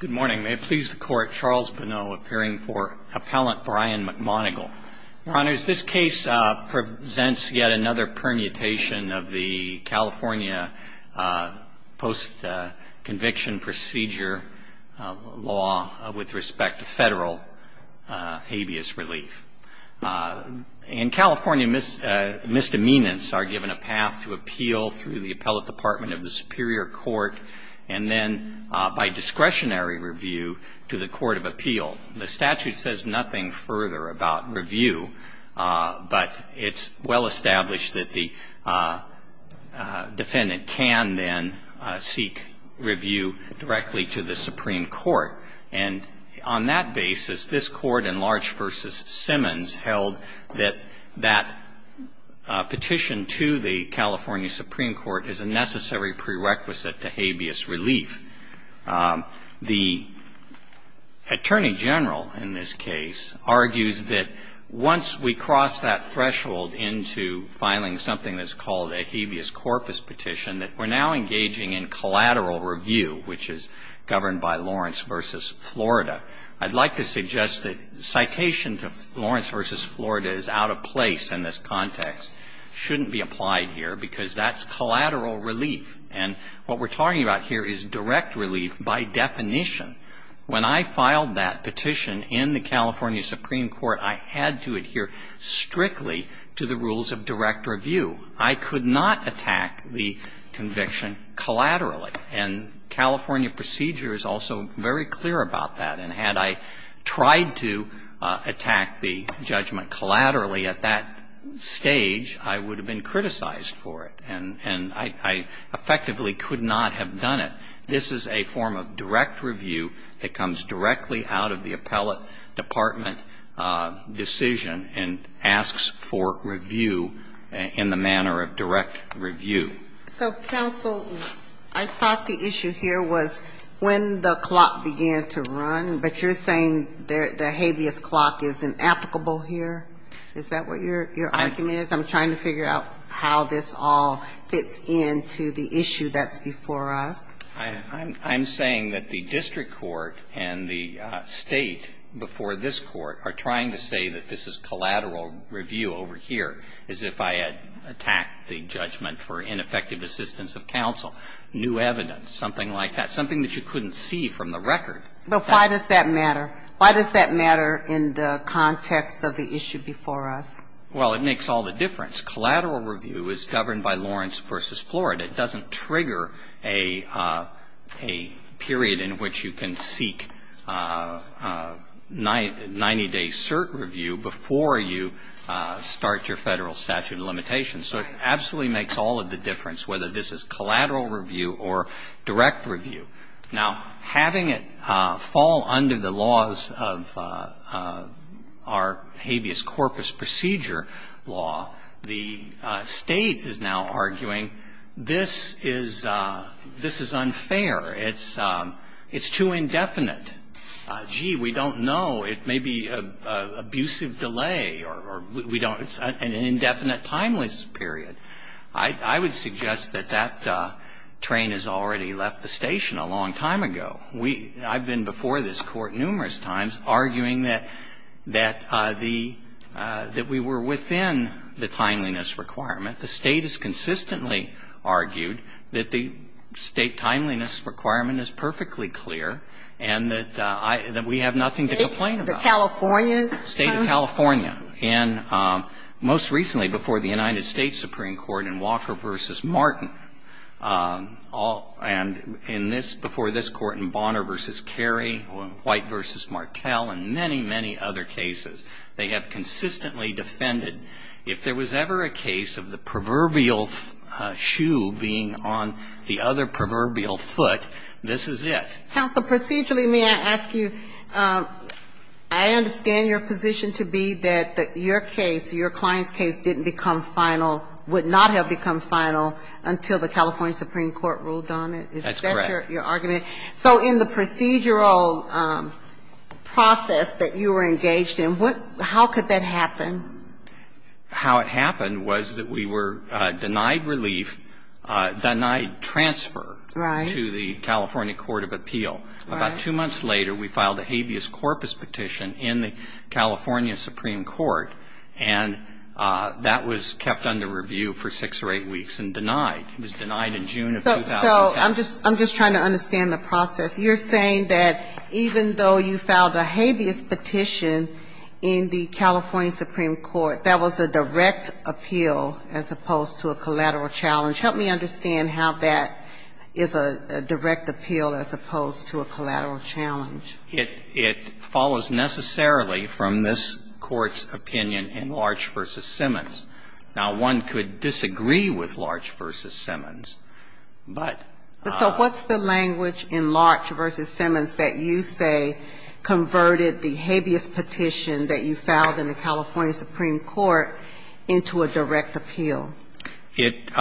Good morning. May it please the Court, Charles Bonneau appearing for Appellant Brian McMonagle. Your Honors, this case presents yet another permutation of the California post-conviction procedure law with respect to federal habeas relief. And California misdemeanants are given a path to appeal through the Appellate Department of the Superior Court and then by discretionary review to the Court of Appeal. The statute says nothing further about review, but it's well established that the defendant can then seek review directly to the Supreme Court. And on that basis, this Court in Large v. Simmons held that that petition to the California Supreme Court is a necessary prerequisite to habeas relief. The Attorney General in this case argues that once we cross that threshold into filing something that's called a habeas corpus petition, that we're now engaging in collateral review, which is governed by Lawrence v. Florida. I'd like to suggest that citation to Lawrence v. Florida is out of place in this context, shouldn't be applied here, because that's collateral relief. And what we're talking about here is direct relief by definition. When I filed that petition in the California Supreme Court, I had to adhere strictly to the rules of direct review. I could not attack the conviction collaterally. And California procedure is also very clear about that. And had I tried to attack the judgment collaterally at that stage, I would have been criticized for it, and I effectively could not have done it. This is a form of direct review that comes directly out of the appellate department decision and asks for review in the manner of direct review. So, counsel, I thought the issue here was when the clock began to run, but you're saying the habeas clock is inapplicable here? Is that what your argument is? I'm trying to figure out how this all fits into the issue that's before us. I'm saying that the district court and the State before this Court are trying to say that this is collateral review over here, as if I had attacked the judgment for ineffective assistance of counsel. New evidence, something like that. Something that you couldn't see from the record. But why does that matter? Why does that matter in the context of the issue before us? Well, it makes all the difference. Collateral review is governed by Lawrence v. Florida. It doesn't trigger a period in which you can seek 90-day cert review before you start your Federal statute of limitations. So it absolutely makes all of the difference, whether this is collateral review or direct review. Now, having it fall under the laws of our habeas corpus procedure law, the State is now arguing this is unfair, it's too indefinite. Gee, we don't know. It may be an abusive delay or we don't know. It's an indefinite, timeless period. I would suggest that that train has already left the station a long time ago. I've been before this Court numerous times arguing that we were within the timeliness requirement. The State has consistently argued that the State timeliness requirement is perfectly clear and that I – that we have nothing to complain about. State of California? State of California. And most recently before the United States Supreme Court in Walker v. Martin, and in this – before this Court in Bonner v. Carey, White v. Martel, and many, many other cases. They have consistently defended if there was ever a case of the proverbial shoe being on the other proverbial foot, this is it. Counsel, procedurally, may I ask you? I understand your position to be that your case, your client's case, didn't become final, would not have become final until the California Supreme Court ruled on it. That's correct. Is that your argument? So in the procedural process that you were engaged in, what – how could that happen? How it happened was that we were denied relief, denied transfer to the California Court of Appeal. Right. About two months later, we filed a habeas corpus petition in the California Supreme Court, and that was kept under review for six or eight weeks and denied. It was denied in June of 2010. So I'm just – I'm just trying to understand the process. You're saying that even though you filed a habeas petition in the California Supreme Court, that was a direct appeal as opposed to a collateral challenge. Help me understand how that is a direct appeal as opposed to a collateral challenge. It follows necessarily from this Court's opinion in Larch v. Simmons. Now, one could disagree with Larch v. Simmons, but – But so what's the language in Larch v. Simmons that you say converted the habeas petition that you filed in the California Supreme Court into a direct appeal? It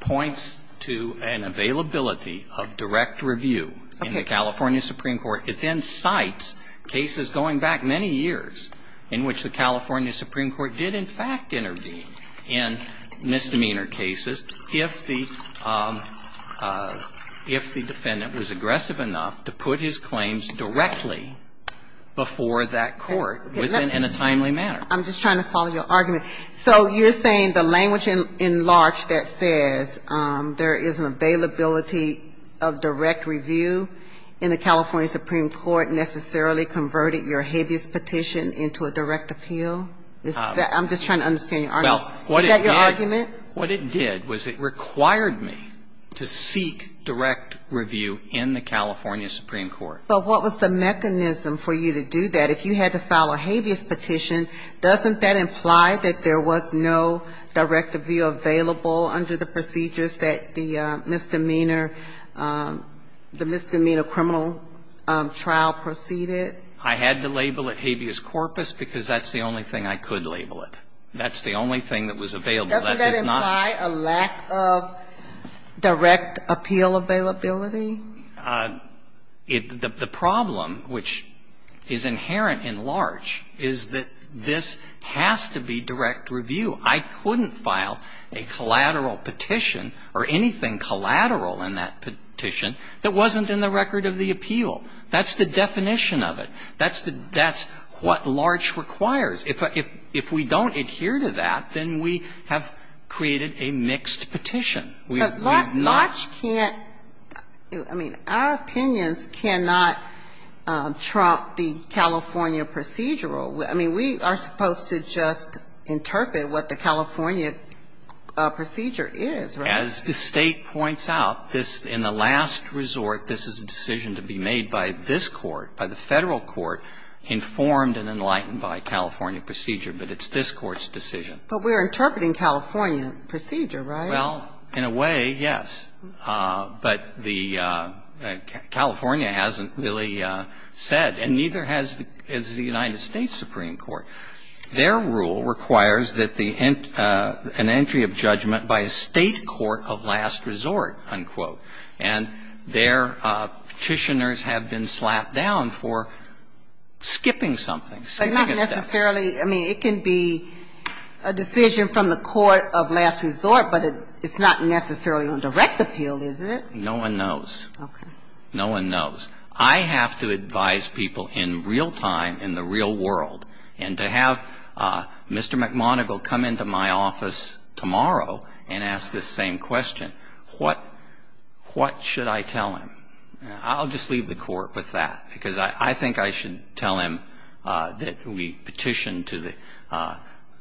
points to an availability of direct review in the California Supreme Court. Okay. It then cites cases going back many years in which the California Supreme Court did in fact intervene in misdemeanor cases if the – if the defendant was aggressive enough to put his claims directly before that court within – in a timely manner. I'm just trying to follow your argument. So you're saying the language in Larch that says there is an availability of direct review in the California Supreme Court necessarily converted your habeas petition into a direct appeal? I'm just trying to understand your argument. Is that your argument? Well, what it did – what it did was it required me to seek direct review in the California Supreme Court. But what was the mechanism for you to do that? If you had to file a habeas petition, doesn't that imply that there was no direct review available under the procedures that the misdemeanor – the misdemeanor criminal trial proceeded? I had to label it habeas corpus because that's the only thing I could label it. That's the only thing that was available. Doesn't that imply a lack of direct appeal availability? The problem, which is inherent in Larch, is that this has to be direct review. I couldn't file a collateral petition or anything collateral in that petition that wasn't in the record of the appeal. That's the definition of it. That's the – that's what Larch requires. If we don't adhere to that, then we have created a mixed petition. We have not – But Larch can't – I mean, our opinions cannot trump the California procedural. I mean, we are supposed to just interpret what the California procedure is, right? As the State points out, this – in the last resort, this is a decision to be made by this Court, by the Federal court, informed and enlightened by California procedure, but it's this Court's decision. But we are interpreting California procedure, right? Well, in a way, yes. But the – California hasn't really said, and neither has the – is the United States Supreme Court. Their rule requires that the – an entry of judgment by a State court of last resort, unquote. And their Petitioners have been slapped down for skipping something, saving a step. But not necessarily – I mean, it can be a decision from the court of last resort, but it's not necessarily on direct appeal, is it? No one knows. Okay. No one knows. I have to advise people in real time, in the real world, and to have Mr. McMoneagle come into my office tomorrow and ask this same question, what should I tell him? I'll just leave the Court with that, because I think I should tell him that we petition to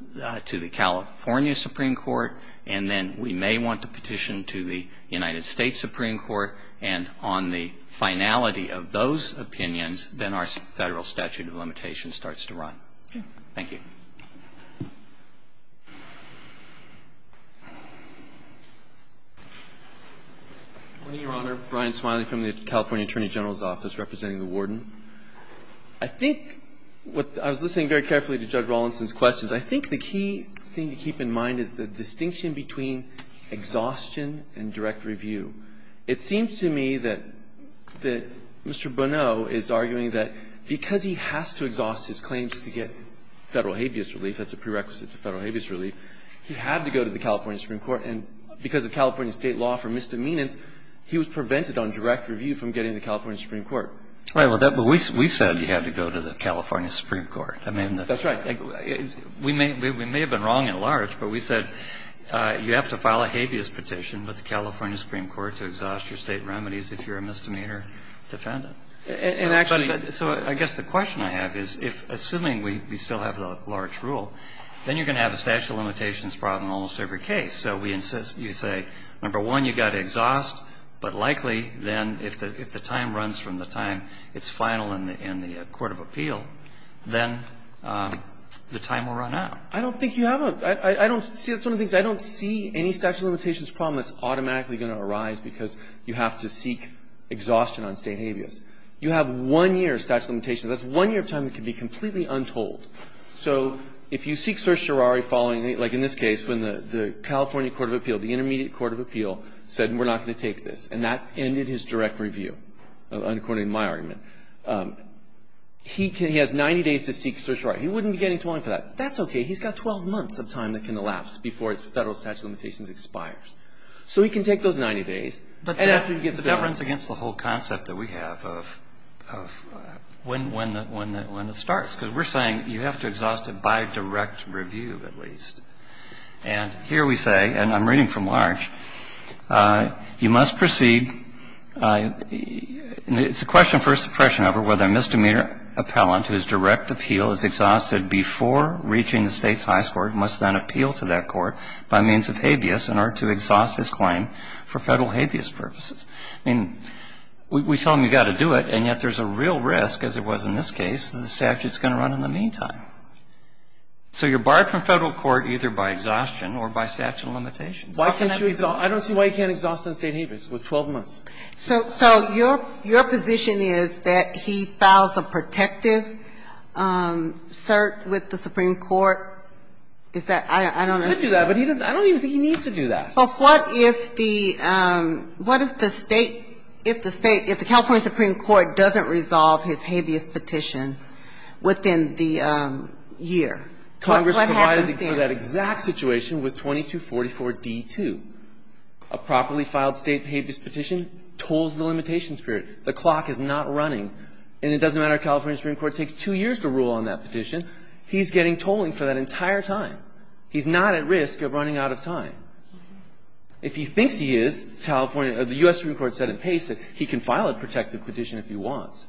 the California Supreme Court, and then we may want to petition to the United States Supreme Court, and on the finality of those opinions, then our Federal statute of limitations starts to run. Okay. Thank you. Good morning, Your Honor. Brian Smiley from the California Attorney General's Office, representing the Warden. I think what – I was listening very carefully to Judge Rawlinson's questions. I think the key thing to keep in mind is the distinction between exhaustion and direct review. It seems to me that Mr. Bonneau is arguing that because he has to exhaust his claims to get Federal habeas relief, that's a prerequisite to Federal habeas relief, he had to go to the California Supreme Court. And because of California State law for misdemeanors, he was prevented on direct review from getting to the California Supreme Court. Right. But we said he had to go to the California Supreme Court. That's right. We may have been wrong at large, but we said you have to file a habeas petition with the California Supreme Court to exhaust your State remedies if you're a misdemeanor defendant. And actually the question I have is if, assuming we still have the large rule, then you're going to have a statute of limitations problem in almost every case. So we insist you say, number one, you've got to exhaust, but likely then if the time runs from the time it's final in the court of appeal, then the time will run out. I don't think you have a – I don't see – that's one of the things. I don't see any statute of limitations problem that's automatically going to arise because you have to seek exhaustion on State habeas. You have one year of statute of limitations. That's one year of time that can be completely untold. So if you seek certiorari following, like in this case, when the California court of appeal, the intermediate court of appeal, said we're not going to take this, and that ended his direct review, according to my argument, he can – he has 90 days to seek certiorari. He wouldn't be getting 20 for that. That's okay. He's got 12 months of time that can elapse before his Federal statute of limitations expires. So he can take those 90 days, and after he gets done – But that runs against the whole concept that we have of when it starts, because we're saying you have to exhaust it by direct review, at least. And here we say, and I'm reading from Larch, you must proceed – it's a question for suppression over whether a misdemeanor appellant whose direct appeal is exhausted before reaching the State's highest court must then appeal to that court by means of habeas in order to exhaust his claim for Federal habeas purposes. I mean, we tell him you've got to do it, and yet there's a real risk, as it was in this case, that the statute's going to run in the meantime. So you're barred from Federal court either by exhaustion or by statute of limitations. Why can't you – I don't see why you can't exhaust it on State habeas with 12 months. So your position is that he files a protective cert with the Supreme Court? Is that – I don't understand. He could do that, but he doesn't – I don't even think he needs to do that. But what if the – what if the State – if the State – if the California Supreme Court doesn't resolve his habeas petition within the year? What happens then? Congress provided for that exact situation with 2244d2, a properly filed State habeas petition, tolls the limitations period. The clock is not running. And it doesn't matter if California Supreme Court takes two years to rule on that petition, he's getting tolling for that entire time. He's not at risk of running out of time. If he thinks he is, California – the U.S. Supreme Court said at pace that he can file a protective petition if he wants.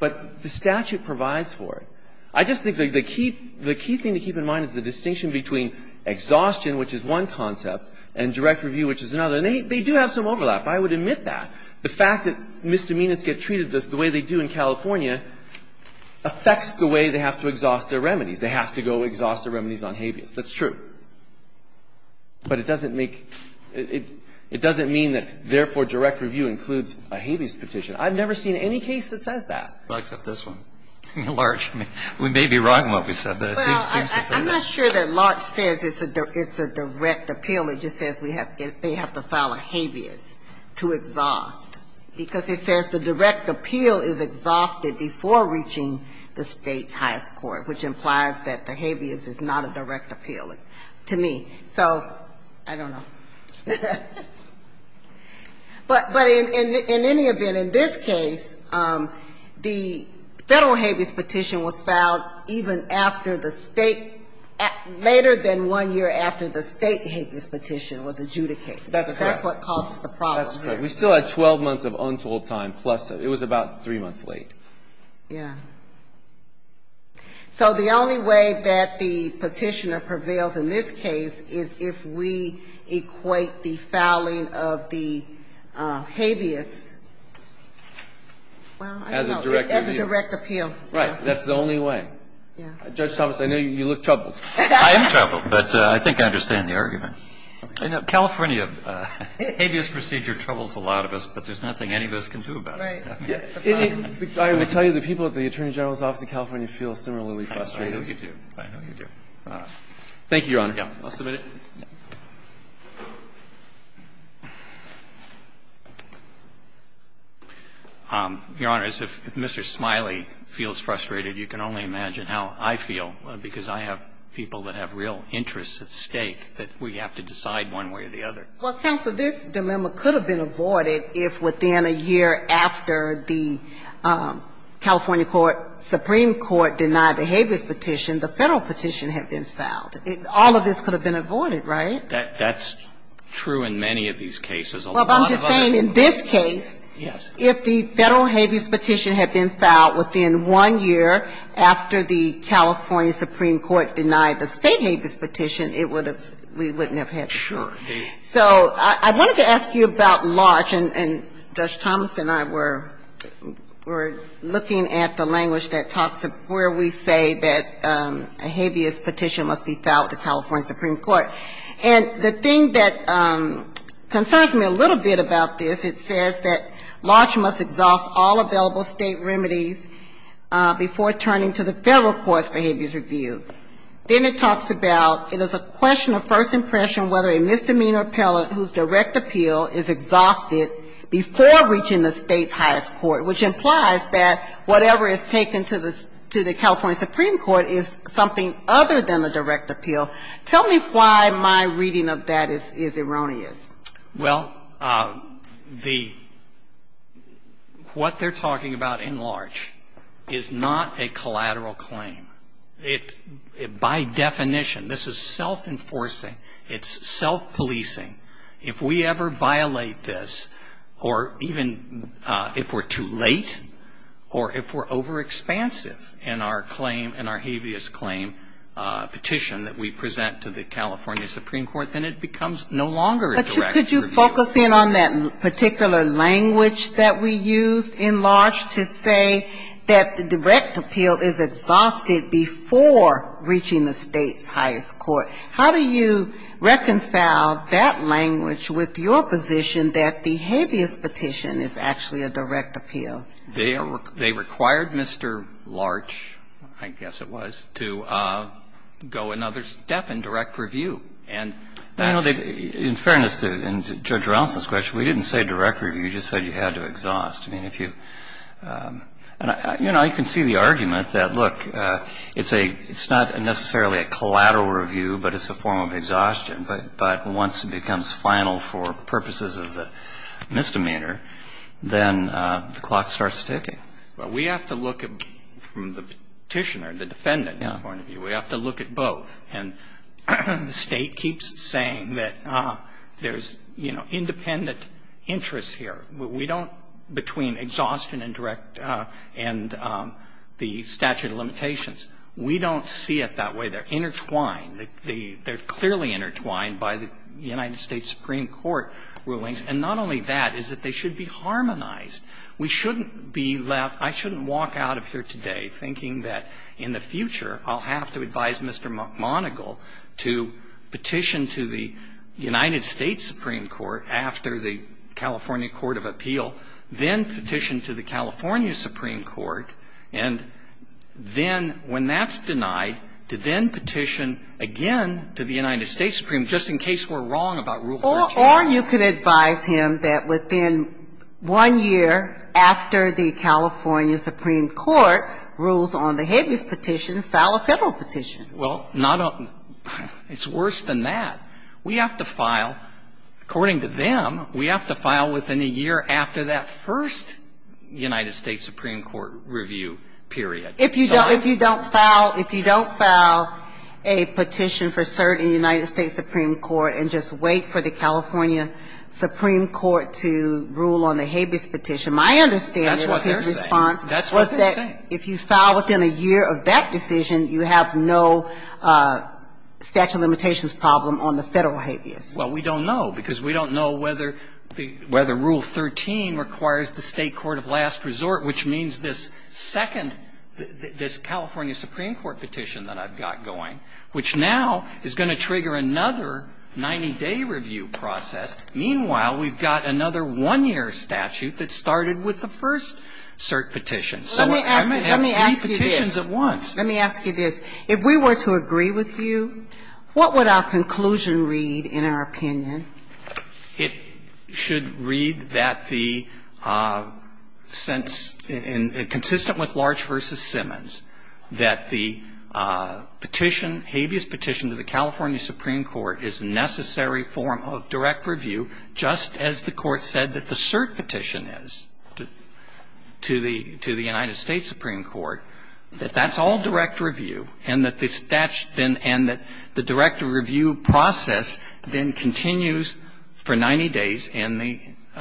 But the statute provides for it. I just think the key – the key thing to keep in mind is the distinction between exhaustion, which is one concept, and direct review, which is another. And they do have some overlap. I would admit that. The fact that misdemeanors get treated the way they do in California affects the way they have to exhaust their remedies. They have to go exhaust their remedies on habeas. That's true. But it doesn't make – it doesn't mean that, therefore, direct review includes a habeas petition. I've never seen any case that says that. Well, except this one. Larch, we may be wrong what we said, but it seems to say that. Well, I'm not sure that Larch says it's a direct appeal. It just says they have to file a habeas to exhaust, because it says the direct appeal is exhausted before reaching the State's highest court, which implies that the habeas is not a direct appeal to me. So I don't know. But in any event, in this case, the Federal habeas petition was filed even after the State – later than one year after the State habeas petition was adjudicated. That's correct. So that's what caused the problem. That's correct. We still had 12 months of untold time, plus – it was about three months late. Yeah. So the only way that the petitioner prevails in this case is if we equate the filing of the habeas, well, I don't know, as a direct appeal. As a direct appeal. Right. That's the only way. Yeah. Judge Thomas, I know you look troubled. I am troubled, but I think I understand the argument. California habeas procedure troubles a lot of us, but there's nothing any of us can do about it. Right. I will tell you, the people at the Attorney General's office in California feel similarly frustrated. I know you do. I know you do. Thank you, Your Honor. I'll submit it. Your Honor, as if Mr. Smiley feels frustrated, you can only imagine how I feel, because I have people that have real interests at stake that we have to decide one way or the other. Well, counsel, this dilemma could have been avoided if within a year after the California court, Supreme Court denied the habeas petition, the Federal petition had been filed. All of this could have been avoided, right? That's true in many of these cases. Well, I'm just saying in this case, if the Federal habeas petition had been filed within one year after the California Supreme Court denied the State habeas petition, it would have been, we wouldn't have had this. Sure. So I wanted to ask you about large, and Judge Thomas and I were looking at the language that talks of where we say that a habeas petition must be filed with the California Supreme Court. And the thing that concerns me a little bit about this, it says that large must exhaust all available State remedies before turning to the Federal courts for habeas review. Then it talks about it is a question of first impression whether a misdemeanor appellant whose direct appeal is exhausted before reaching the State's highest court, which implies that whatever is taken to the California Supreme Court is something other than a direct appeal. Tell me why my reading of that is erroneous. Well, the, what they're talking about in large is not a collateral claim. It, by definition, this is self-enforcing. It's self-policing. If we ever violate this, or even if we're too late, or if we're overexpansive in our claim, in our habeas claim petition that we present to the California Supreme Court, then it becomes no longer a direct appeal. But could you focus in on that particular language that we used in large to say that the direct appeal is exhausted before reaching the State's highest court? How do you reconcile that language with your position that the habeas petition is actually a direct appeal? They are, they required Mr. Larch, I guess it was, to go another step in direct review. And that's. In fairness to Judge Ronson's question, we didn't say direct review. You just said you had to exhaust. I mean, if you, you know, you can see the argument that, look, it's a, it's not necessarily a collateral review, but it's a form of exhaustion. But once it becomes final for purposes of the misdemeanor, then the clock starts ticking. Well, we have to look at, from the petitioner, the defendant's point of view, we have to look at both. And the State keeps saying that there's, you know, independent interests here. We don't, between exhaustion and direct and the statute of limitations, we don't see it that way. They're intertwined. They're clearly intertwined by the United States Supreme Court rulings. And not only that, is that they should be harmonized. We shouldn't be left, I shouldn't walk out of here today thinking that in the future I'll have to advise Mr. Monigal to petition to the United States Supreme Court after the California Court of Appeal, then petition to the California Supreme Court, and then, when that's denied, to then petition again to the United States Supreme Court, just in case we're wrong about Rule 13. Or you could advise him that within one year after the California Supreme Court rules on the Habeas Petition, file a Federal petition. Well, not a, it's worse than that. We have to file, according to them, we have to file within a year after that first United States Supreme Court review, period. If you don't file, if you don't file a petition for cert in the United States Supreme Court and just wait for the California Supreme Court to rule on the Habeas Petition, my understanding of his response was that if you file within a year of that decision, you have no statute of limitations problem on the Federal Habeas. Well, we don't know, because we don't know whether the, whether Rule 13 requires the State court of last resort, which means this second, this California Supreme Court petition that I've got going, which now is going to trigger another 90-day review process. Meanwhile, we've got another one-year statute that started with the first cert petition. So I might have three petitions at once. Let me ask you this. If we were to agree with you, what would our conclusion read in our opinion? It should read that the sense, consistent with Large v. Simmons, that the petition, Habeas Petition to the California Supreme Court is a necessary form of direct review, just as the Court said that the cert petition is to the United States Supreme Court, that that's all direct review, and that the statute then, and that the direct review process then continues for 90 days in the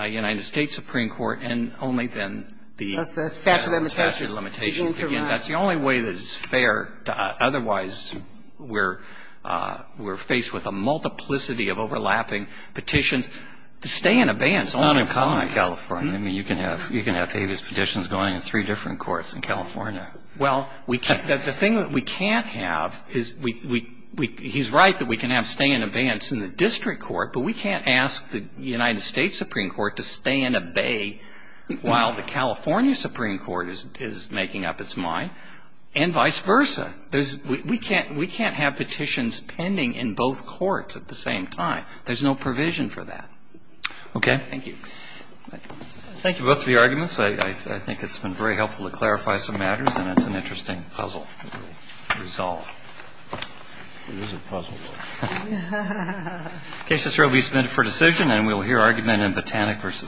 United States Supreme Court and only then the statute of limitations begins to arise. That's the only way that it's fair to otherwise, we're, we're faced with a multiplicity of overlapping petitions. To stay in abeyance only applies. It's not uncommon in California. I mean, you can have, you can have Habeas Petitions going in three different courts in California. Well, we can't, the thing that we can't have is we, we, we, he's right that we can have stay in abeyance in the district court, but we can't ask the United States Supreme Court to stay in abey while the California Supreme Court is, is making up its mind, and vice versa. There's, we can't, we can't have petitions pending in both courts at the same time. There's no provision for that. Okay. Thank you. Thank you both for your arguments. I, I, I think it's been very helpful to clarify some matters and it's an interesting puzzle to resolve. It is a puzzle. Okay. Justice Roe will be submitted for decision and we will hear argument in Botanic v. Holder.